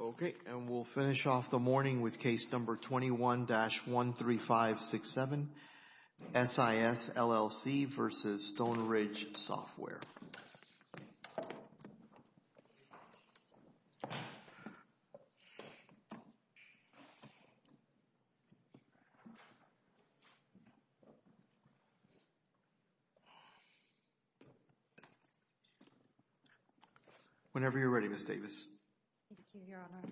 Okay, and we'll finish off the morning with case number 21-13567, SIS, LLC v. Stoneridge Software. Whenever you're ready, Ms. Davis. Thank you, Your Honor.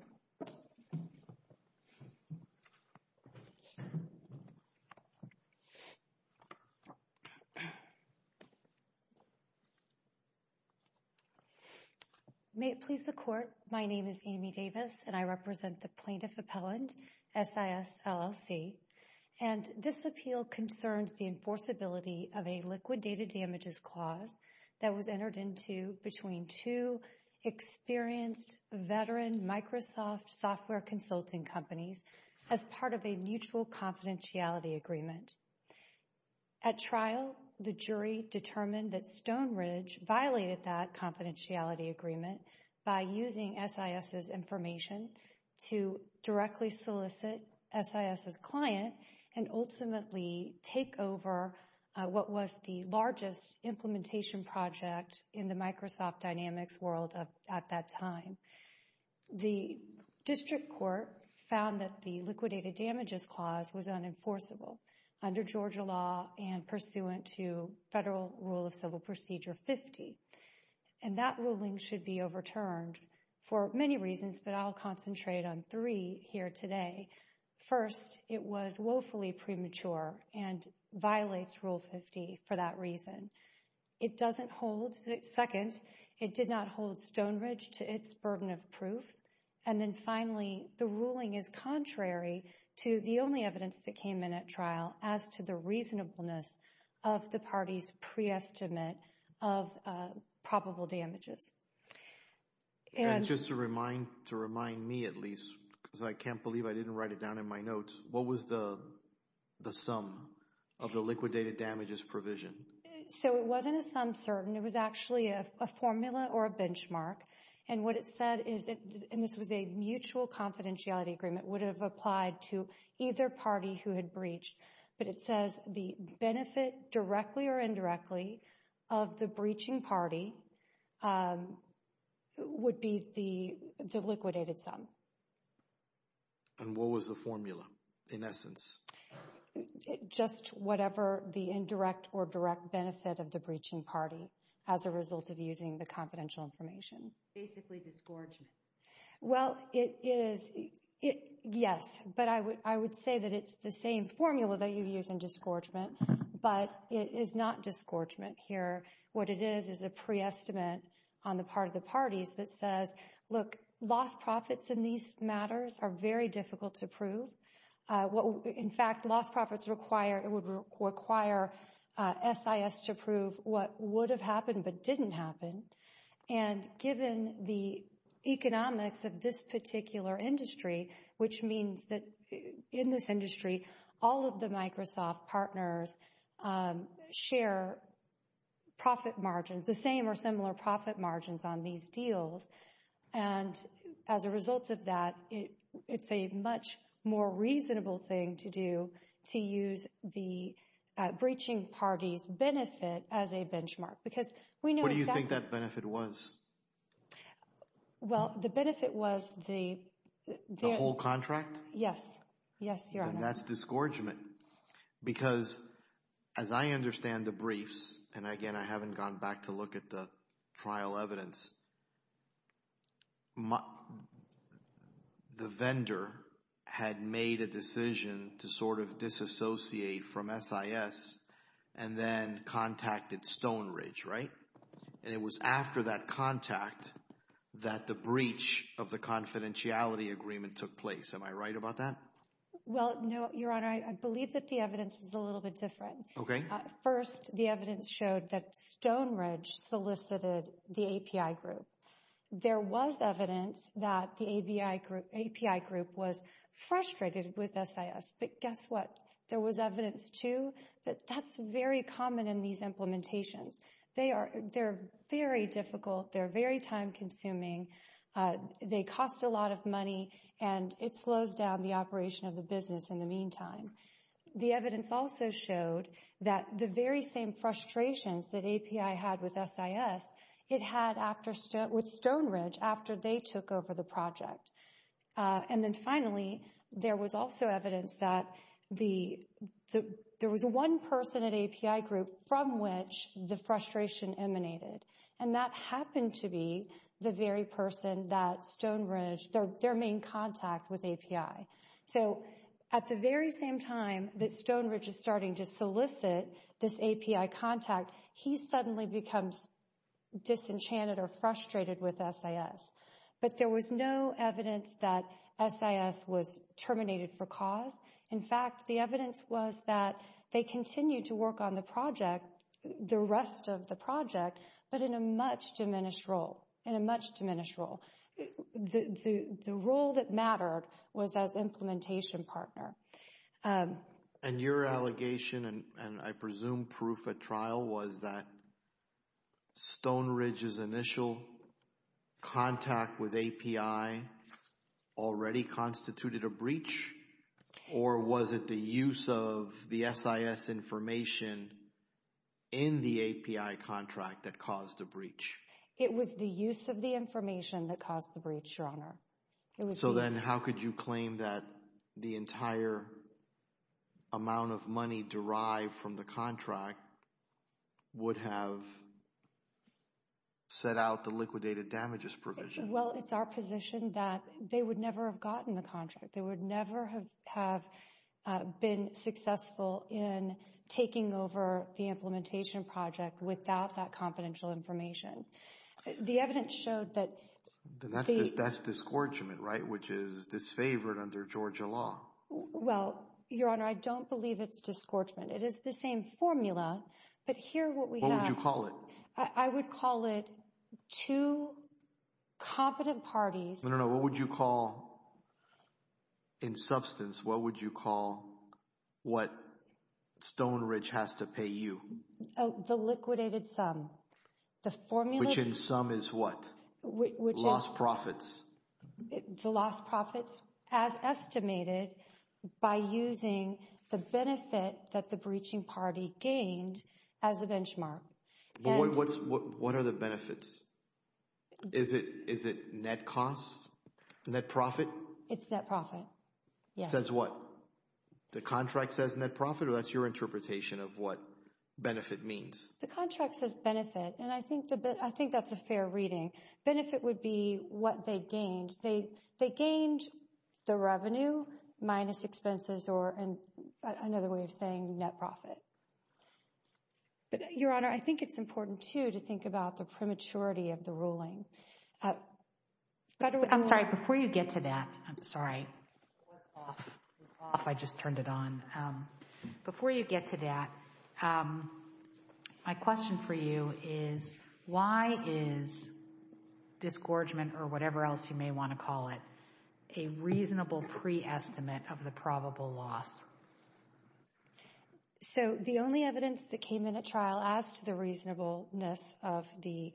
May it please the Court, my name is Amy Davis and I represent the plaintiff appellant, SIS, LLC, and this appeal concerns the enforceability of a liquid data damages clause that was entered into between two experienced veteran Microsoft software consulting companies as part of a mutual confidentiality agreement. At trial, the jury determined that Stoneridge violated that confidentiality agreement by using SIS's information to directly solicit SIS's client and ultimately take over what was the largest implementation project in the Microsoft Dynamics world at that time. The district court found that the liquidated damages clause was unenforceable under Georgia law and pursuant to Federal Rule of Civil Procedure 50, and that ruling should be overturned for many reasons, but I'll concentrate on three here today. First, it was woefully premature and violates Rule 50 for that reason. Second, it did not hold Stoneridge to its burden of proof. And then finally, the ruling is contrary to the only evidence that came in at reasonableness of the party's pre-estimate of probable damages. And just to remind me at least, because I can't believe I didn't write it down in my notes, what was the sum of the liquidated damages provision? So it wasn't a sum certain, it was actually a formula or a benchmark, and what it said is, and this was a mutual confidentiality agreement, would have applied to either party who had breached, but it says the benefit directly or indirectly of the breaching party would be the liquidated sum. And what was the formula in essence? Just whatever the indirect or direct benefit of the breaching party as a result of using the confidential information. Basically disgorgement. Well, it is, yes, but I would say that it's the same formula that you use in disgorgement, but it is not disgorgement here. What it is, is a pre-estimate on the part of the parties that says, look, lost profits in these matters are very difficult to prove. In fact, lost profits require, it would require SIS to prove what would have happened but didn't happen. And given the economics of this particular industry, which means that in this industry, all of the Microsoft partners share profit margins, the same or similar profit margins on these deals. And as a result of that, it's a much more reasonable thing to do to use the breaching party's benefit as a benchmark. What do you think that benefit was? Well, the benefit was the whole contract? Yes. Yes, Your Honor. And that's disgorgement. Because as I understand the briefs, and again, I haven't gone back to look at the trial evidence, the vendor had made a decision to sort of disassociate from SIS and then contacted Stone Ridge, right? And it was after that contact that the breach of the confidentiality agreement took place. Am I right about that? Well, no, Your Honor. I believe that the evidence was a little bit different. Okay. First, the evidence showed that Stone Ridge solicited the API group. There was evidence that the API group was frustrated with SIS. But guess what? There was evidence, too, that that's very common in these implementations. They're very difficult, they're very time consuming, they cost a lot of money, and it slows down the operation of business in the meantime. The evidence also showed that the very same frustrations that API had with SIS, it had with Stone Ridge after they took over the project. And then finally, there was also evidence that there was one person at API group from which the frustration emanated, and that happened to be the very person that Stone Ridge, their main contact with API. So at the very same time that Stone Ridge is starting to solicit this API contact, he suddenly becomes disenchanted or frustrated with SIS. But there was no evidence that SIS was terminated for cause. In fact, the evidence was that they continued to work on the project, the rest of the project, but in a much diminished role, in a much diminished role. The role that mattered was as implementation partner. And your allegation, and I presume proof at trial, was that Stone Ridge's initial contact with API already constituted a breach? Or was it the use of the SIS information in the API contract that caused the breach? It was the use of the information that caused the breach, Your Honor. So then how could you claim that the entire amount of money derived from the contract would have set out the liquidated damages provision? Well, it's our position that they would never have gotten the contract. They would never have been successful in taking over the implementation project without that confidential information. The evidence showed that... That's disgorgement, right? Which is disfavored under Georgia law. Well, Your Honor, I don't believe it's disgorgement. It is the same formula, but here what we have... What would you call it? I would call it two competent parties... No, no, no. What would you call, in substance, what would you call what Stone Ridge has to pay you? The liquidated sum. The formula... Which in sum is what? Lost profits. The lost profits as estimated by using the benefit that the breaching party gained as a benchmark. What are the benefits? Is it net costs? Net profits? It's net profit. Yes. Says what? The contract says net profit, or that's your interpretation of what benefit means? The contract says benefit, and I think that's a fair reading. Benefit would be what they gained. They gained the revenue minus expenses, or another way of saying net profit. Your Honor, I think it's important, too, to think about the prematurity of the ruling. By the way... I'm sorry, before you get to that, I'm sorry. It was off. It was off. I just turned it on. Before you get to that, my question for you is why is disgorgement, or whatever else you may want to call it, a reasonable pre-estimate of the probable loss? So the only evidence that came in at trial as to the reasonableness of the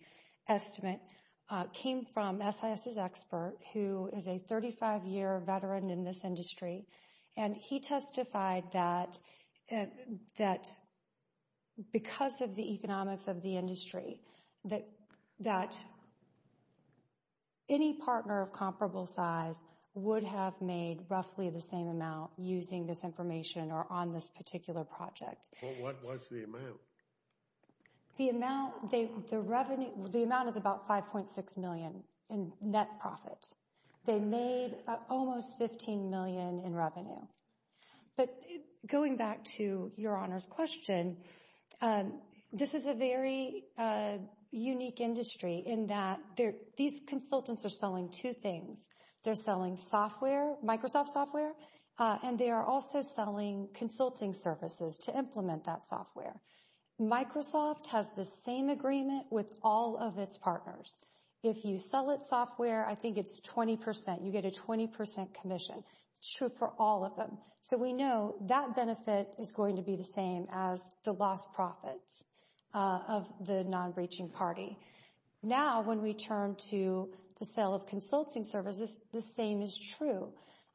estimate came from SIS's expert, who is a 35-year veteran in this industry, and he testified that because of the economics of the industry, that any partner of comparable size would have made roughly the same amount using this information or on this particular project. What was the amount? The amount is about $5.6 million in net profit. They made almost $15 million in revenue. But going back to Your Honor's question, this is a very unique industry in that these consultants are selling two things. They're selling Microsoft software, and they are also consulting services to implement that software. Microsoft has the same agreement with all of its partners. If you sell its software, I think it's 20%. You get a 20% commission. It's true for all of them. So we know that benefit is going to be the same as the lost profits of the non-breaching party. Now when we turn to the sale of consulting services, the same is true.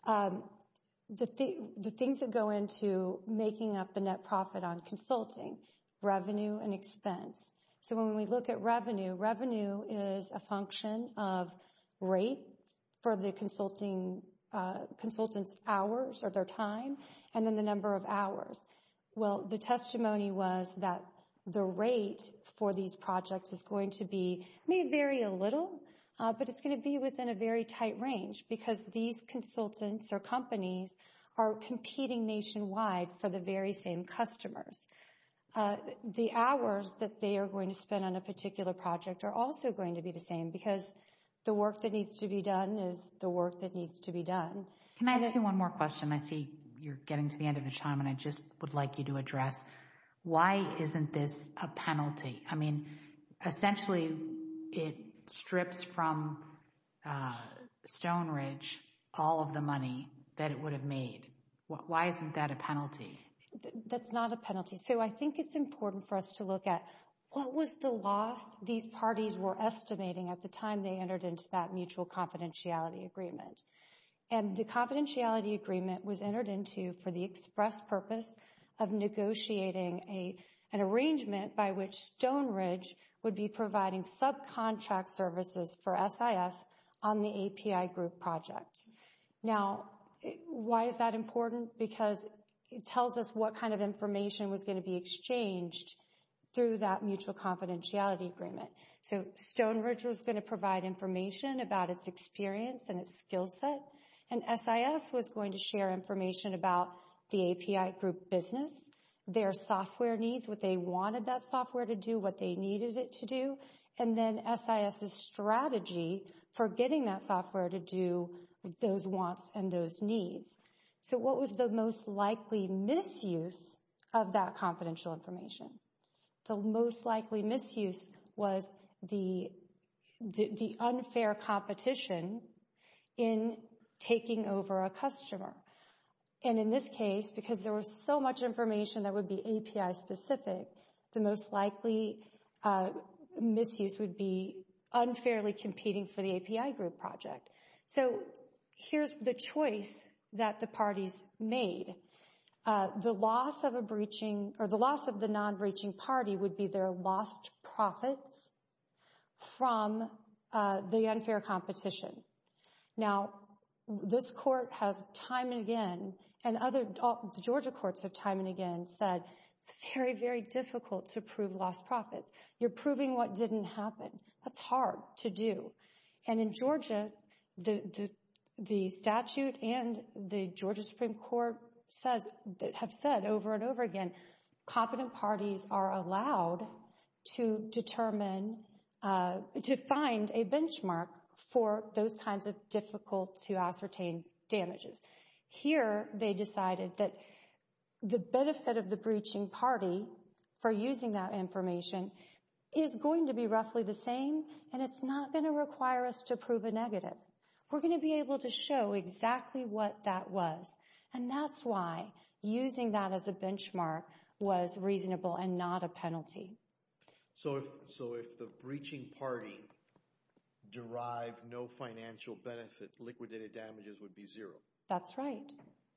The things that go into making up the net profit on consulting, revenue and expense. So when we look at revenue, revenue is a function of rate for the consultant's hours or their time, and then the number of hours. Well, the testimony was that the rate for these projects is going to be, may vary a little, but it's going to be within a very tight range because these consultants or companies are competing nationwide for the very same customers. The hours that they are going to spend on a particular project are also going to be the same because the work that needs to be done is the work that needs to be done. Can I ask you one more question? I see you're getting to the end of your time and I just would like you to address why isn't this a penalty? I mean, essentially, it strips from Stone Ridge all of the money that it would have made. Why isn't that a penalty? That's not a penalty. So I think it's important for us to look at what was the loss these parties were estimating at the time they entered into that mutual confidentiality agreement. And the confidentiality agreement was entered into for the express purpose of negotiating an arrangement by which Stone Ridge would be providing subcontract services for SIS on the API group project. Now, why is that important? Because it tells us what kind of Stone Ridge was going to provide information about its experience and its skill set, and SIS was going to share information about the API group business, their software needs, what they wanted that software to do, what they needed it to do, and then SIS's strategy for getting that software to do those wants and those needs. So what was the most likely misuse of that confidential information? The most likely misuse was the unfair competition in taking over a customer. And in this case, because there was so much information that would be API specific, the most likely misuse would be unfairly competing for the API group project. So here's the choice that the parties made. The loss of a breaching or the loss of the non-breaching party would be their lost profits from the unfair competition. Now, this court has time and again, and other Georgia courts have time and again said, it's very, very difficult to prove lost profits. You're proving what didn't happen. That's hard to do. And in Georgia, the statute and the Georgia Supreme Court have said over and over again, competent parties are allowed to determine, to find a benchmark for those kinds of difficult to ascertain damages. Here, they decided that the benefit of the breaching party for using that information is going to be roughly the same. And it's not going to require us to prove a negative. We're going to be able to show exactly what that was. And that's why using that as a benchmark was reasonable and not a penalty. So if the breaching party derived no financial benefit, liquidated damages would be zero. That's right.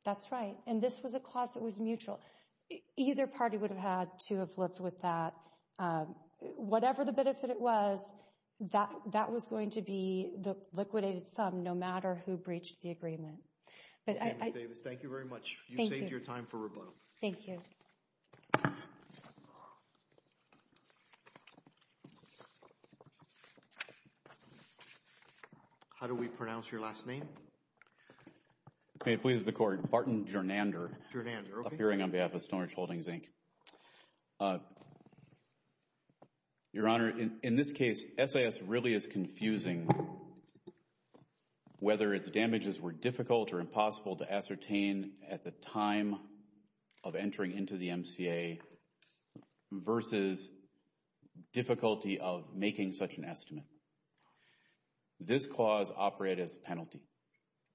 That's right. And this was a to have lived with that. Whatever the benefit it was, that was going to be the liquidated sum, no matter who breached the agreement. Ms. Davis, thank you very much. Thank you. You saved your time for rebuttal. Thank you. How do we pronounce your last name? May it please the court, Barton Gernander. Gernander, okay. Your Honor, in this case, SIS really is confusing whether its damages were difficult or impossible to ascertain at the time of entering into the MCA versus difficulty of making such an estimate. This clause operated as a penalty.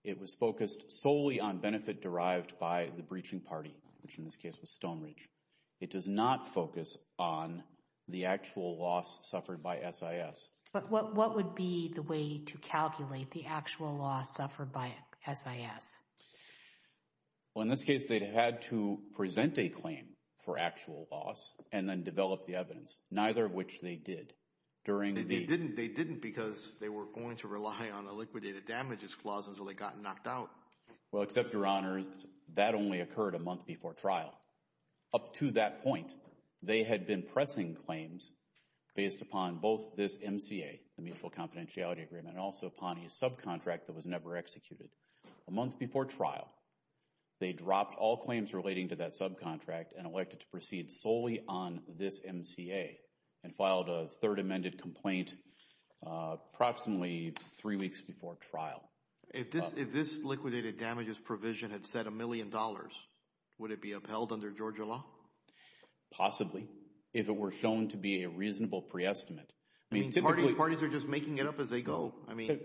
It was focused solely on benefit derived by the breaching party, which in this case was Stone Ridge. It does not focus on the actual loss suffered by SIS. But what would be the way to calculate the actual loss suffered by SIS? Well, in this case, they had to present a claim for actual loss and then develop the evidence, neither of which they did. They didn't because they were going to rely on a liquidated damages clause until they got knocked out. Well, except, Your Honor, that only occurred a month before trial. Up to that point, they had been pressing claims based upon both this MCA, the Mutual Confidentiality Agreement, and also upon a subcontract that was never executed. A month before trial, they dropped all claims relating to that subcontract and elected to proceed solely on this MCA and filed a third amended complaint approximately three weeks before trial. If this liquidated damages provision had set a million dollars, would it be upheld under Georgia law? Possibly, if it were shown to be a reasonable pre-estimate. I mean, typically parties are just making it up as they go. I mean,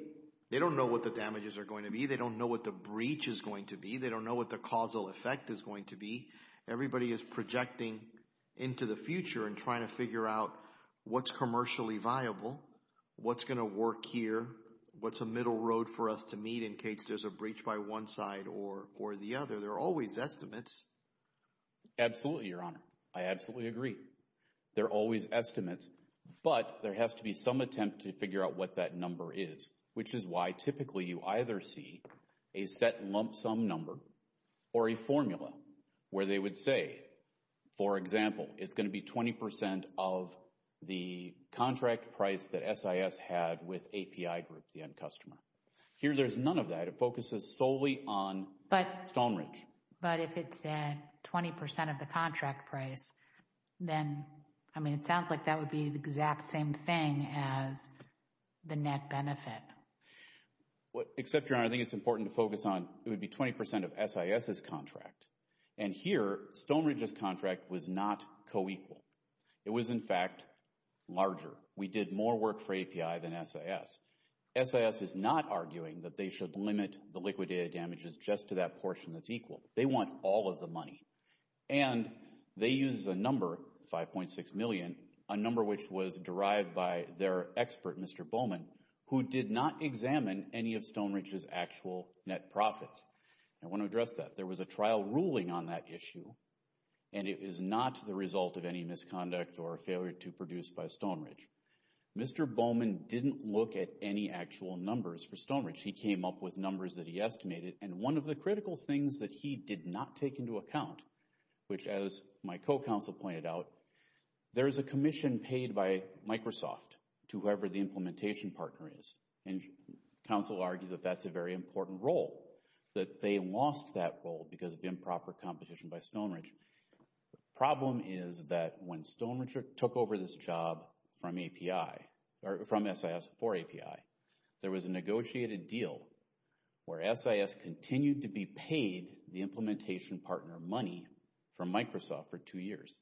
they don't know what the damages are going to be. They don't know what the breach is going to be. They don't know what the causal effect is going to be. Everybody is projecting into the future and trying to figure out what's commercially viable, what's going to work here, what's a middle road for us to meet in case there's a breach by one side or the other. There are always estimates. Absolutely, Your Honor. I absolutely agree. There are always estimates, but there has to be some attempt to figure out what that number is, which is why typically you either see a set lump sum number or a formula where they would say, for example, it's going to be 20 percent of the contract price that SIS had with API Group, the end customer. Here, there's none of that. It focuses solely on Stone Ridge. But if it's at 20 percent of the contract price, then, I mean, it sounds like that would be the exact same thing as the net benefit. Except, Your Honor, I think it's important to focus on it would be 20 percent of SIS's contract. And here, Stone Ridge's contract was not co-equal. It was, in fact, larger. We did more work for API than SIS. SIS is not arguing that they should limit the liquid data damages just to that portion that's equal. They want all of the money. And they use a number, 5.6 million, a number which was derived by their expert, Mr. Bowman, who did not examine any of Stone Ridge's actual net profits. I want to address that. There was a trial ruling on that issue. And it is not the result of any misconduct or failure to produce by Stone Ridge. Mr. Bowman didn't look at any actual numbers for Stone Ridge. He came up with numbers that he estimated. And one of the critical things that he did not take into account, which, as my co-counsel pointed out, there is a commission paid by Microsoft to whoever the implementation partner is. And counsel argued that that's a very important role, that they lost that role because of improper competition by Stone Ridge. The problem is that when Stone Ridge took over this job from API, or from SIS for API, there was a negotiated deal where SIS continued to be paid the implementation partner money from Microsoft for two years.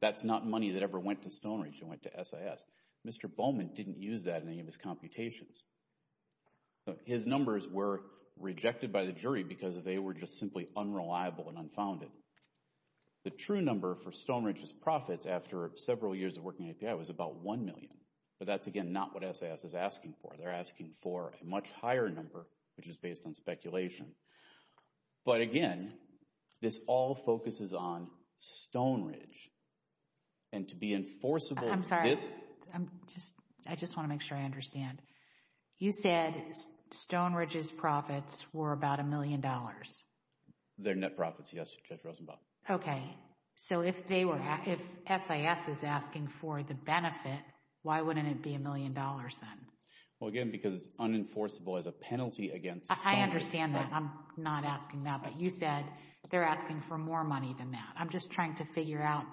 That's not money that ever went to Stone Ridge. It went to SIS. Mr. Bowman didn't use that in any of his computations. His numbers were rejected by the jury because they were just simply unreliable and unfounded. The true number for Stone Ridge's profits after several years of working at API was about 1 million. But that's, again, not what SIS is asking for. They're asking for a much higher number, which is based on speculation. But again, this all focuses on Stone Ridge. And to be enforceable... I'm sorry. I just want to make sure I understand. You said Stone Ridge's profits were about a million dollars. Their net profits, yes, Judge Rosenbaum. Okay. So if SIS is asking for the benefit, why wouldn't it be a million dollars then? Well, again, because it's unenforceable as a penalty against Stone Ridge. I understand that. I'm not asking that. But you said they're asking for more money than that. I'm just trying to figure out.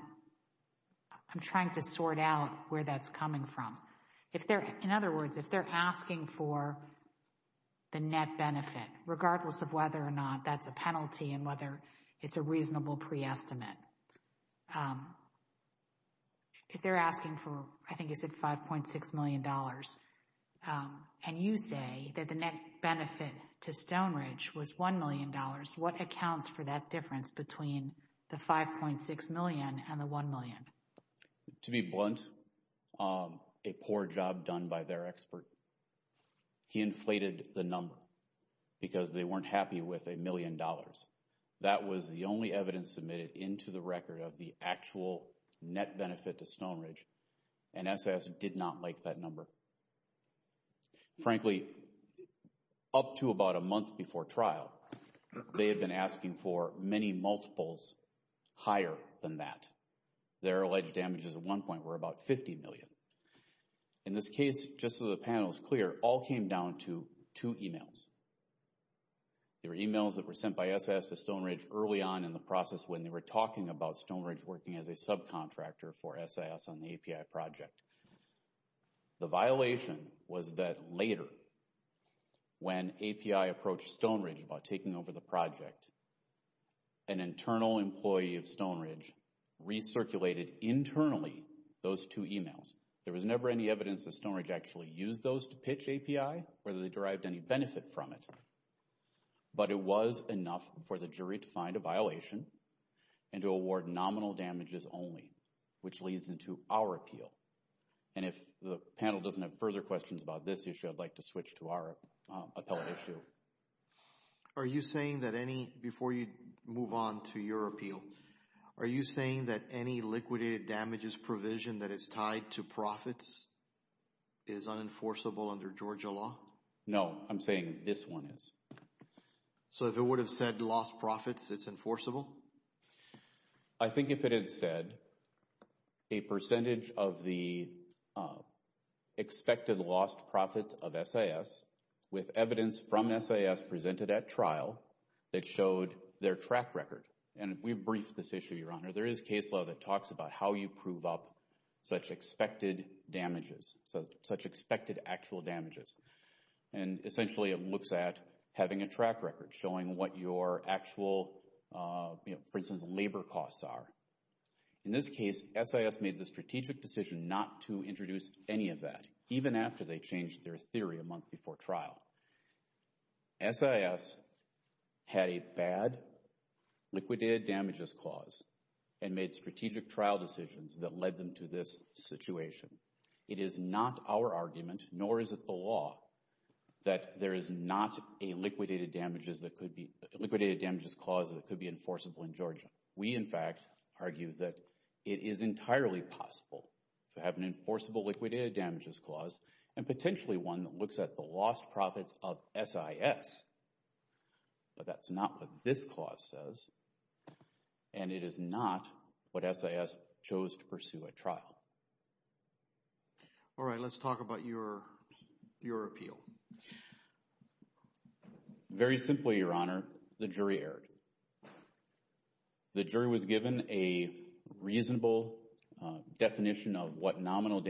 I'm trying to sort out where that's coming from. In other words, if they're asking for the net benefit, regardless of whether or not that's a penalty and whether it's a reasonable pre-estimate, if they're asking for, I think you said, $5.6 million and you say that the net benefit to Stone Ridge was $1 million, what accounts for that difference between the $5.6 million and the $1 million? To be blunt, a poor job done by their expert. He inflated the number because they weren't happy with a million dollars. That was the only evidence submitted into the record of the actual net benefit to Stone Ridge. And SIS did not like that number. Frankly, up to about a month before trial, they had been asking for many multiples higher than that. Their alleged damages at one point were about $50 million. In this case, just so the panel is clear, all came down to two emails. There were emails that were sent by SIS to Stone Ridge early on in the process when they were talking about Stone Ridge working as a subcontractor for SIS on the API project. The violation was that later when API approached Stone Ridge about taking over the project, an internal employee of Stone Ridge recirculated internally those two emails. There was never any evidence that Stone Ridge actually used those to pitch API, whether they derived any benefit from it. But it was enough for the jury to find a violation and to award nominal damages only, which leads into our appeal. And if the panel doesn't have further questions about this issue, I'd like to switch to our appellate issue. Are you saying that any, before you move on to your appeal, are you saying that any liquidated damages provision that is tied to profits is unenforceable under Georgia law? No. I'm saying this one is. So if it would have said lost profits, it's enforceable? I think if it had said a percentage of the expected lost profits of SIS with evidence from SIS presented at trial that showed their track record. And we briefed this issue, Your Honor. There is case law that talks about how you prove up such expected damages, such expected actual damages. And essentially it looks at having a track record showing what your actual, for instance, labor costs are. In this case, SIS made the strategic decision not to introduce any of that, even after they changed their theory a month before trial. SIS had a bad liquidated damages clause. And made strategic trial decisions that led them to this situation. It is not our argument, nor is it the law, that there is not a liquidated damages that could be, liquidated damages clause that could be enforceable in Georgia. We, in fact, argue that it is entirely possible to have an enforceable liquidated damages clause and potentially one that looks at the lost profits of SIS. But that's not what this clause says. And it is not what SIS chose to pursue at trial. All right, let's talk about your, your appeal. Very simply, Your Honor, the jury erred. The jury was given a reasonable definition of what nominal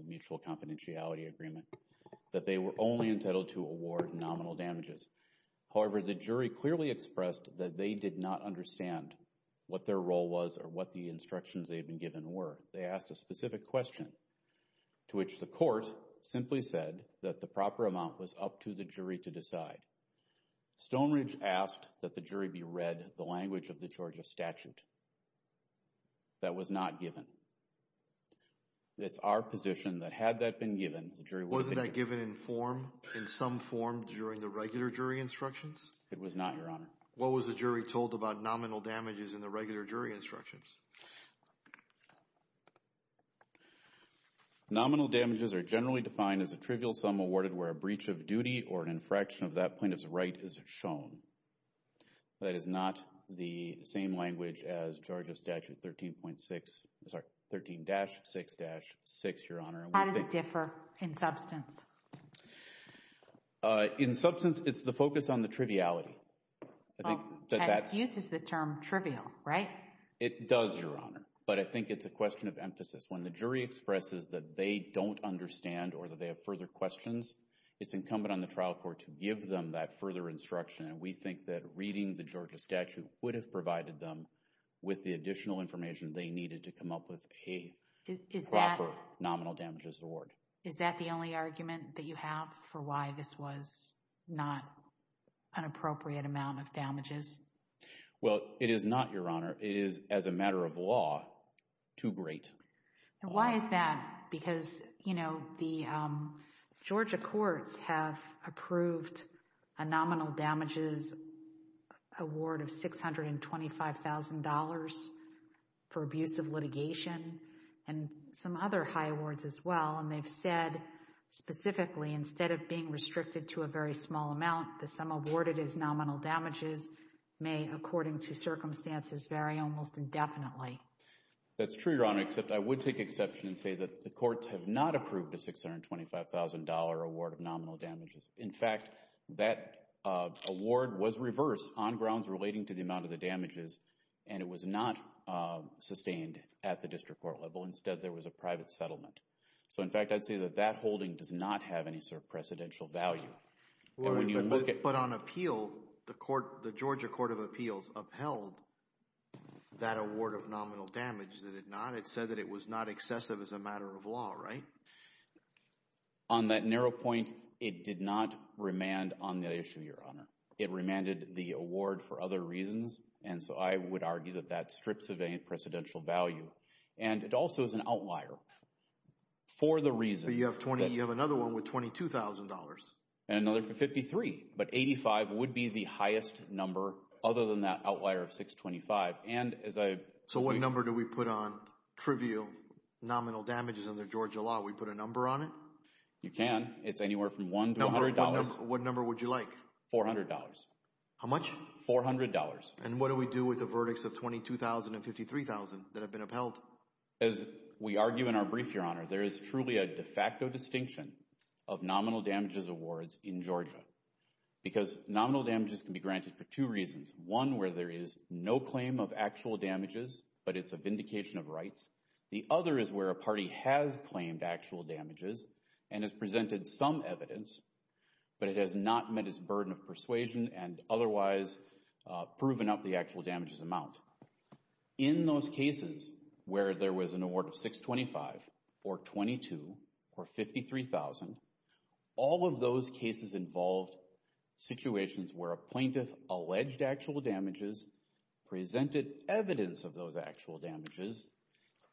mutual confidentiality agreement, that they were only entitled to award nominal damages. However, the jury clearly expressed that they did not understand what their role was or what the instructions they had been given were. They asked a specific question to which the court simply said that the proper amount was up to the jury to decide. Stoneridge asked that the jury be read the language of the Georgia statute. That was not given. It's our position that had that been given, the jury wasn't. Wasn't that given in form, in some form, during the regular jury instructions? It was not, Your Honor. What was the jury told about nominal damages in the regular jury instructions? Nominal damages are generally defined as a trivial sum awarded where a breach of duty or an infraction of that plaintiff's right is shown. That is not the same language as Georgia statute 13.6, sorry, 13-6-6, Your Honor. How does it differ in substance? In substance, it's the focus on the triviality. I think that that uses the term trivial, right? It does, Your Honor, but I think it's a question of emphasis. When the jury expresses that they don't understand or that they have further questions, it's incumbent on the trial court to give them that further instruction. We think that reading the Georgia statute would have provided them with the additional information they needed to come up with a proper nominal damages award. Is that the only argument that you have for why this was not an appropriate amount of damages? Well, it is not, Your Honor. It is, as a matter of law, too great. Why is that? Because, you know, the Georgia courts have approved a nominal damages award of $625,000 for abuse of litigation and some other high awards as well, and they've said specifically, instead of being restricted to a very small amount, the sum awarded is nominal damages may, according to circumstances, vary almost indefinitely. That's true, Your Honor, except I would take exception and say that the courts have not approved a $625,000 award of nominal damages. In fact, that award was reversed on grounds relating to the amount of the damages, and it was not sustained at the district court level. Instead, there was a private settlement. So, in fact, I'd say that that holding does not have any sort of precedential value. But on appeal, the Georgia Court of Appeals upheld that award of nominal damage, did it not? It said that it was not excessive as a matter of law, right? On that narrow point, it did not remand on that issue, Your Honor. It remanded the award for other reasons, and so I would argue that that strips of any precedential value. And it also is an outlier for the reason that— So you have another one with $22,000. And another for $53,000. But $85,000 would be the highest number other than that outlier of $625,000. And as I— So what number do we put on trivial nominal damages under Georgia law? We put a number on it? You can. It's anywhere from $1 to $100. What number would you like? $400. How much? $400. And what do we do with the verdicts of $22,000 and $53,000 that have been upheld? As we argue in our brief, Your Honor, there is truly a de facto distinction of nominal damages awards in Georgia. Because nominal damages can be granted for two reasons. One, where there is no claim of actual damages, but it's a vindication of rights. The other is where a party has claimed actual damages and has presented some evidence, but it has not met its burden of persuasion and otherwise proven up the actual damages amount. In those cases where there was an award of $625,000 or $22,000 or $53,000, all of those cases involved situations where a plaintiff alleged actual damages, presented evidence of those actual damages,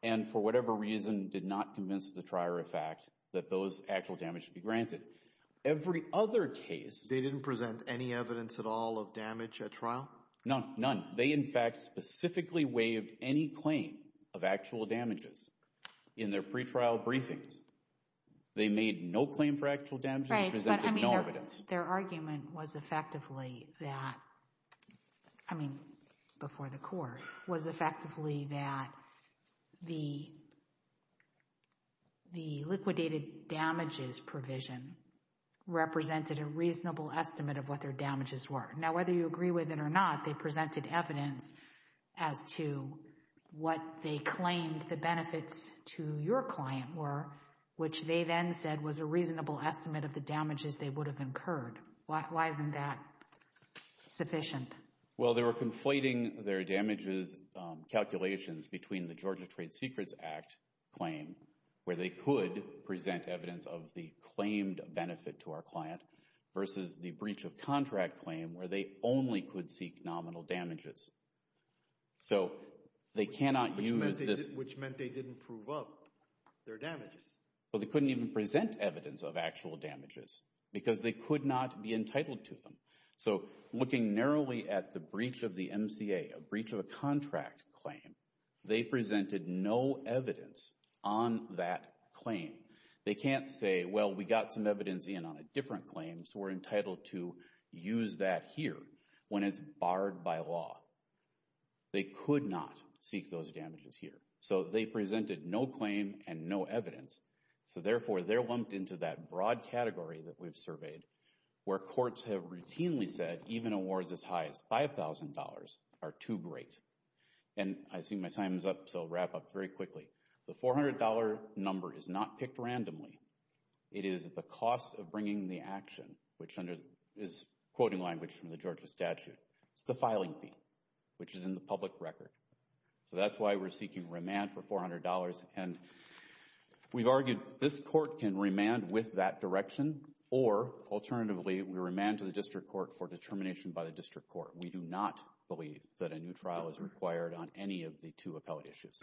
and for whatever reason did not convince the trier of fact that those actual damages should be granted. Every other case— They didn't present any evidence at all of damage at trial? None. None. They, in fact, specifically waived any claim of actual damages. In their pretrial briefings, they made no claim for actual damages and presented no evidence. Their argument was effectively that—I mean, before the court—was effectively that the liquidated damages provision represented a reasonable estimate of what their damages were. Now, whether you agree with it or not, they presented evidence as to what they claimed the benefits to your client were, which they then said was a reasonable estimate of the damages they would have incurred. Why isn't that sufficient? Well, they were conflating their damages calculations between the Georgia Trade Secrets Act claim, where they could present evidence of the claimed benefit to our client, versus the breach of contract claim, where they only could seek nominal damages. So, they cannot use this— Which meant they didn't prove up their damages? Well, they couldn't even present evidence of actual damages because they could not be entitled to them. So, looking narrowly at the breach of the MCA, a breach of a contract claim, they presented no evidence on that claim. They can't say, well, we got some evidence in on a claim, so we're entitled to use that here, when it's barred by law. They could not seek those damages here. So, they presented no claim and no evidence. So, therefore, they're lumped into that broad category that we've surveyed, where courts have routinely said even awards as high as $5,000 are too great. And I see my time is up, so I'll wrap up very quickly. The $400 number is not the action, which is quoting language from the Georgia statute. It's the filing fee, which is in the public record. So, that's why we're seeking remand for $400. And we've argued this court can remand with that direction, or alternatively, we remand to the district court for determination by the district court. We do not believe that a new trial is required on any of the two appellate issues.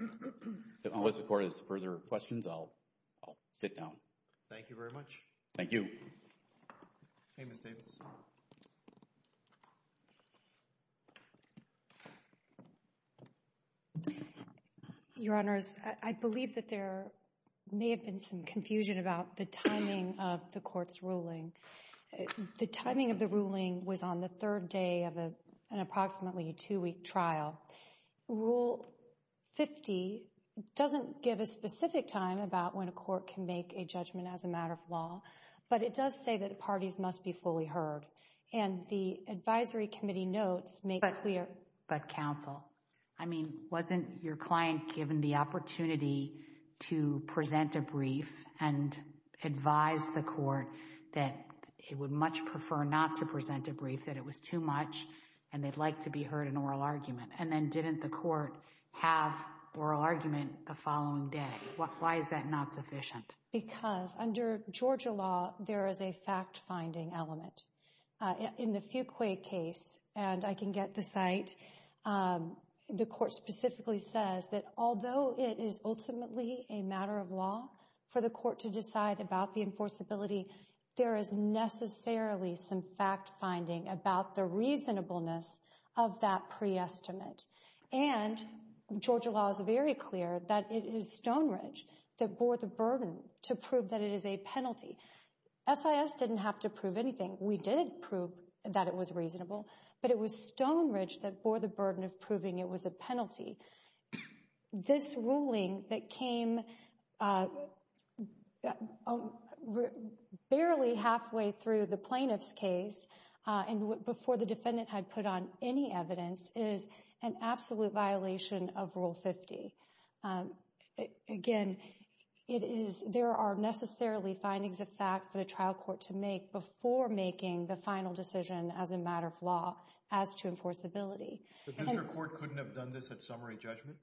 Unless the court has further questions, I'll sit down. Thank you very much. Thank you. Your Honors, I believe that there may have been some confusion about the timing of the court's ruling. The timing of the ruling was on the third day of an approximately two-week trial. Rule 50 doesn't give a specific time about when a court can make a judgment as a matter of law, but it does say that parties must be fully heard. And the advisory committee notes make clear... But counsel, I mean, wasn't your client given the opportunity to present a brief and advise the court that it would much prefer not to present a brief, that it was too much, and they'd like to be heard in oral argument. And then didn't the court have oral argument the following day? Why is that not sufficient? Because under Georgia law, there is a fact-finding element. In the Fuqua case, and I can get the site, the court specifically says that although it is ultimately a matter of law for the court to decide about the enforceability, there is necessarily some fact finding about the reasonableness of that pre-estimate. And Georgia law is very clear that it is Stonebridge that bore the burden to prove that it is a penalty. SIS didn't have to prove anything. We did prove that it was reasonable, but it was Stonebridge that bore the burden of proving it was a penalty. This ruling that came out barely halfway through the plaintiff's case and before the defendant had put on any evidence is an absolute violation of Rule 50. Again, there are necessarily findings of fact for the trial court to make before making the final decision as a matter of law as to enforceability. The district court couldn't have done this at summary judgment?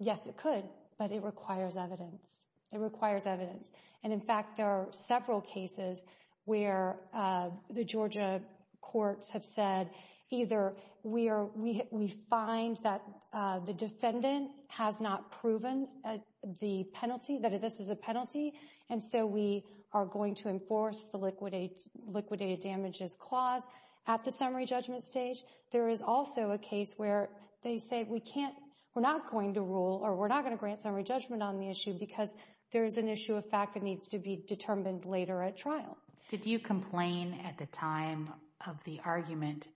Yes, it could, but it requires evidence. It requires evidence. And in fact, there are several cases where the Georgia courts have said either we find that the defendant has not proven the penalty, that this is a penalty, and so we are going to enforce the liquidated damages clause at the summary judgment stage. There is also a case where they say we're not going to rule or we're not going to grant summary judgment on the issue because there's an issue of fact that needs to be determined later at trial. Did you complain at the time of the argument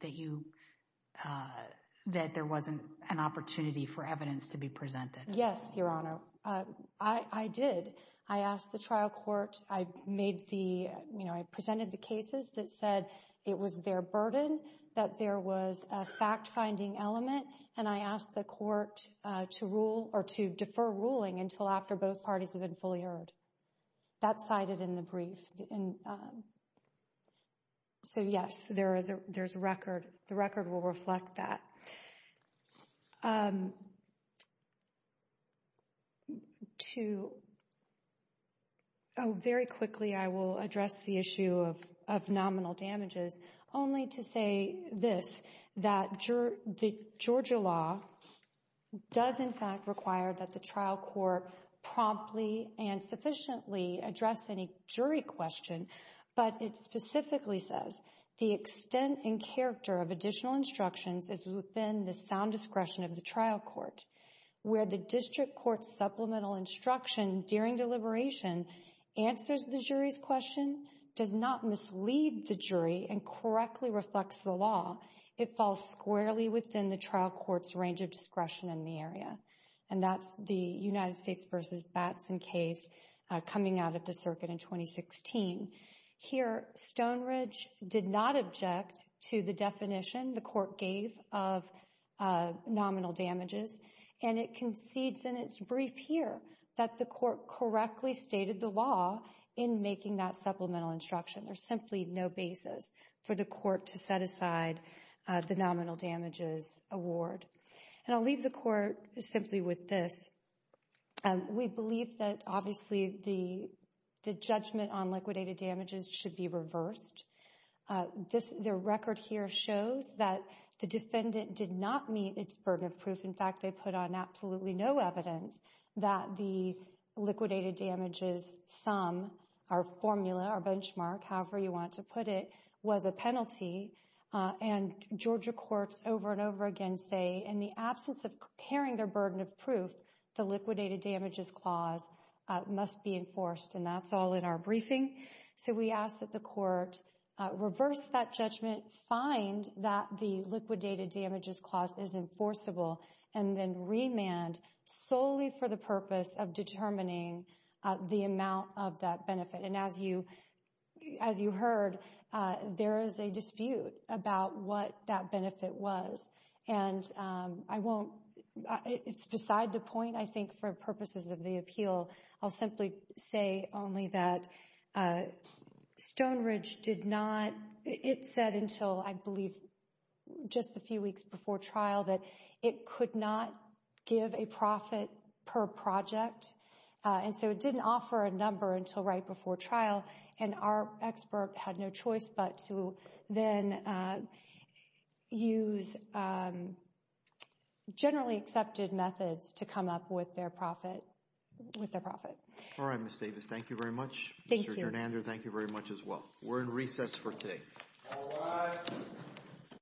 that there wasn't an opportunity for evidence to be presented? Yes, Your Honor, I did. I asked the trial court, I made the, you know, I presented the cases that said it was their burden that there was a fact-finding element, and I asked the court to rule or to defer ruling until after both parties have been fully heard. That's cited in the brief. So yes, there is a record. The record will reflect that. Very quickly, I will address the issue of nominal damages, only to say this, that the Georgia law does, in fact, require that the trial court promptly and sufficiently address any jury question, but it specifically says the extent and character of additional instructions is within the sound discretion of the trial court, where the district court's supplemental instruction during deliberation answers the jury's question, does not mislead the jury, and correctly reflects the law. It falls squarely within the trial court's range of the circuit in 2016. Here, Stonebridge did not object to the definition the court gave of nominal damages, and it concedes in its brief here that the court correctly stated the law in making that supplemental instruction. There's simply no basis for the court to set aside the nominal damages award, and I'll leave the court simply with this. We believe that obviously the judgment on liquidated damages should be reversed. The record here shows that the defendant did not meet its burden of proof. In fact, they put on absolutely no evidence that the liquidated damages sum, our formula, our benchmark, however you want to put it, was a penalty, and Georgia courts over and over again say, in the absence of burden of proof, the liquidated damages clause must be enforced, and that's all in our briefing. So we ask that the court reverse that judgment, find that the liquidated damages clause is enforceable, and then remand solely for the purpose of determining the amount of that benefit. And as you heard, there is a dispute about what that benefit was, and it's beside the point, I think, for purposes of the appeal. I'll simply say only that Stonebridge did not, it said until I believe just a few weeks before trial, that it could not give a profit per project, and so it didn't offer a number until right before trial, and our expert had no choice but to then use generally accepted methods to come up with their profit. All right, Ms. Davis, thank you very much. Thank you. Mr. Gernander, thank you very much as well. We're in recess for today.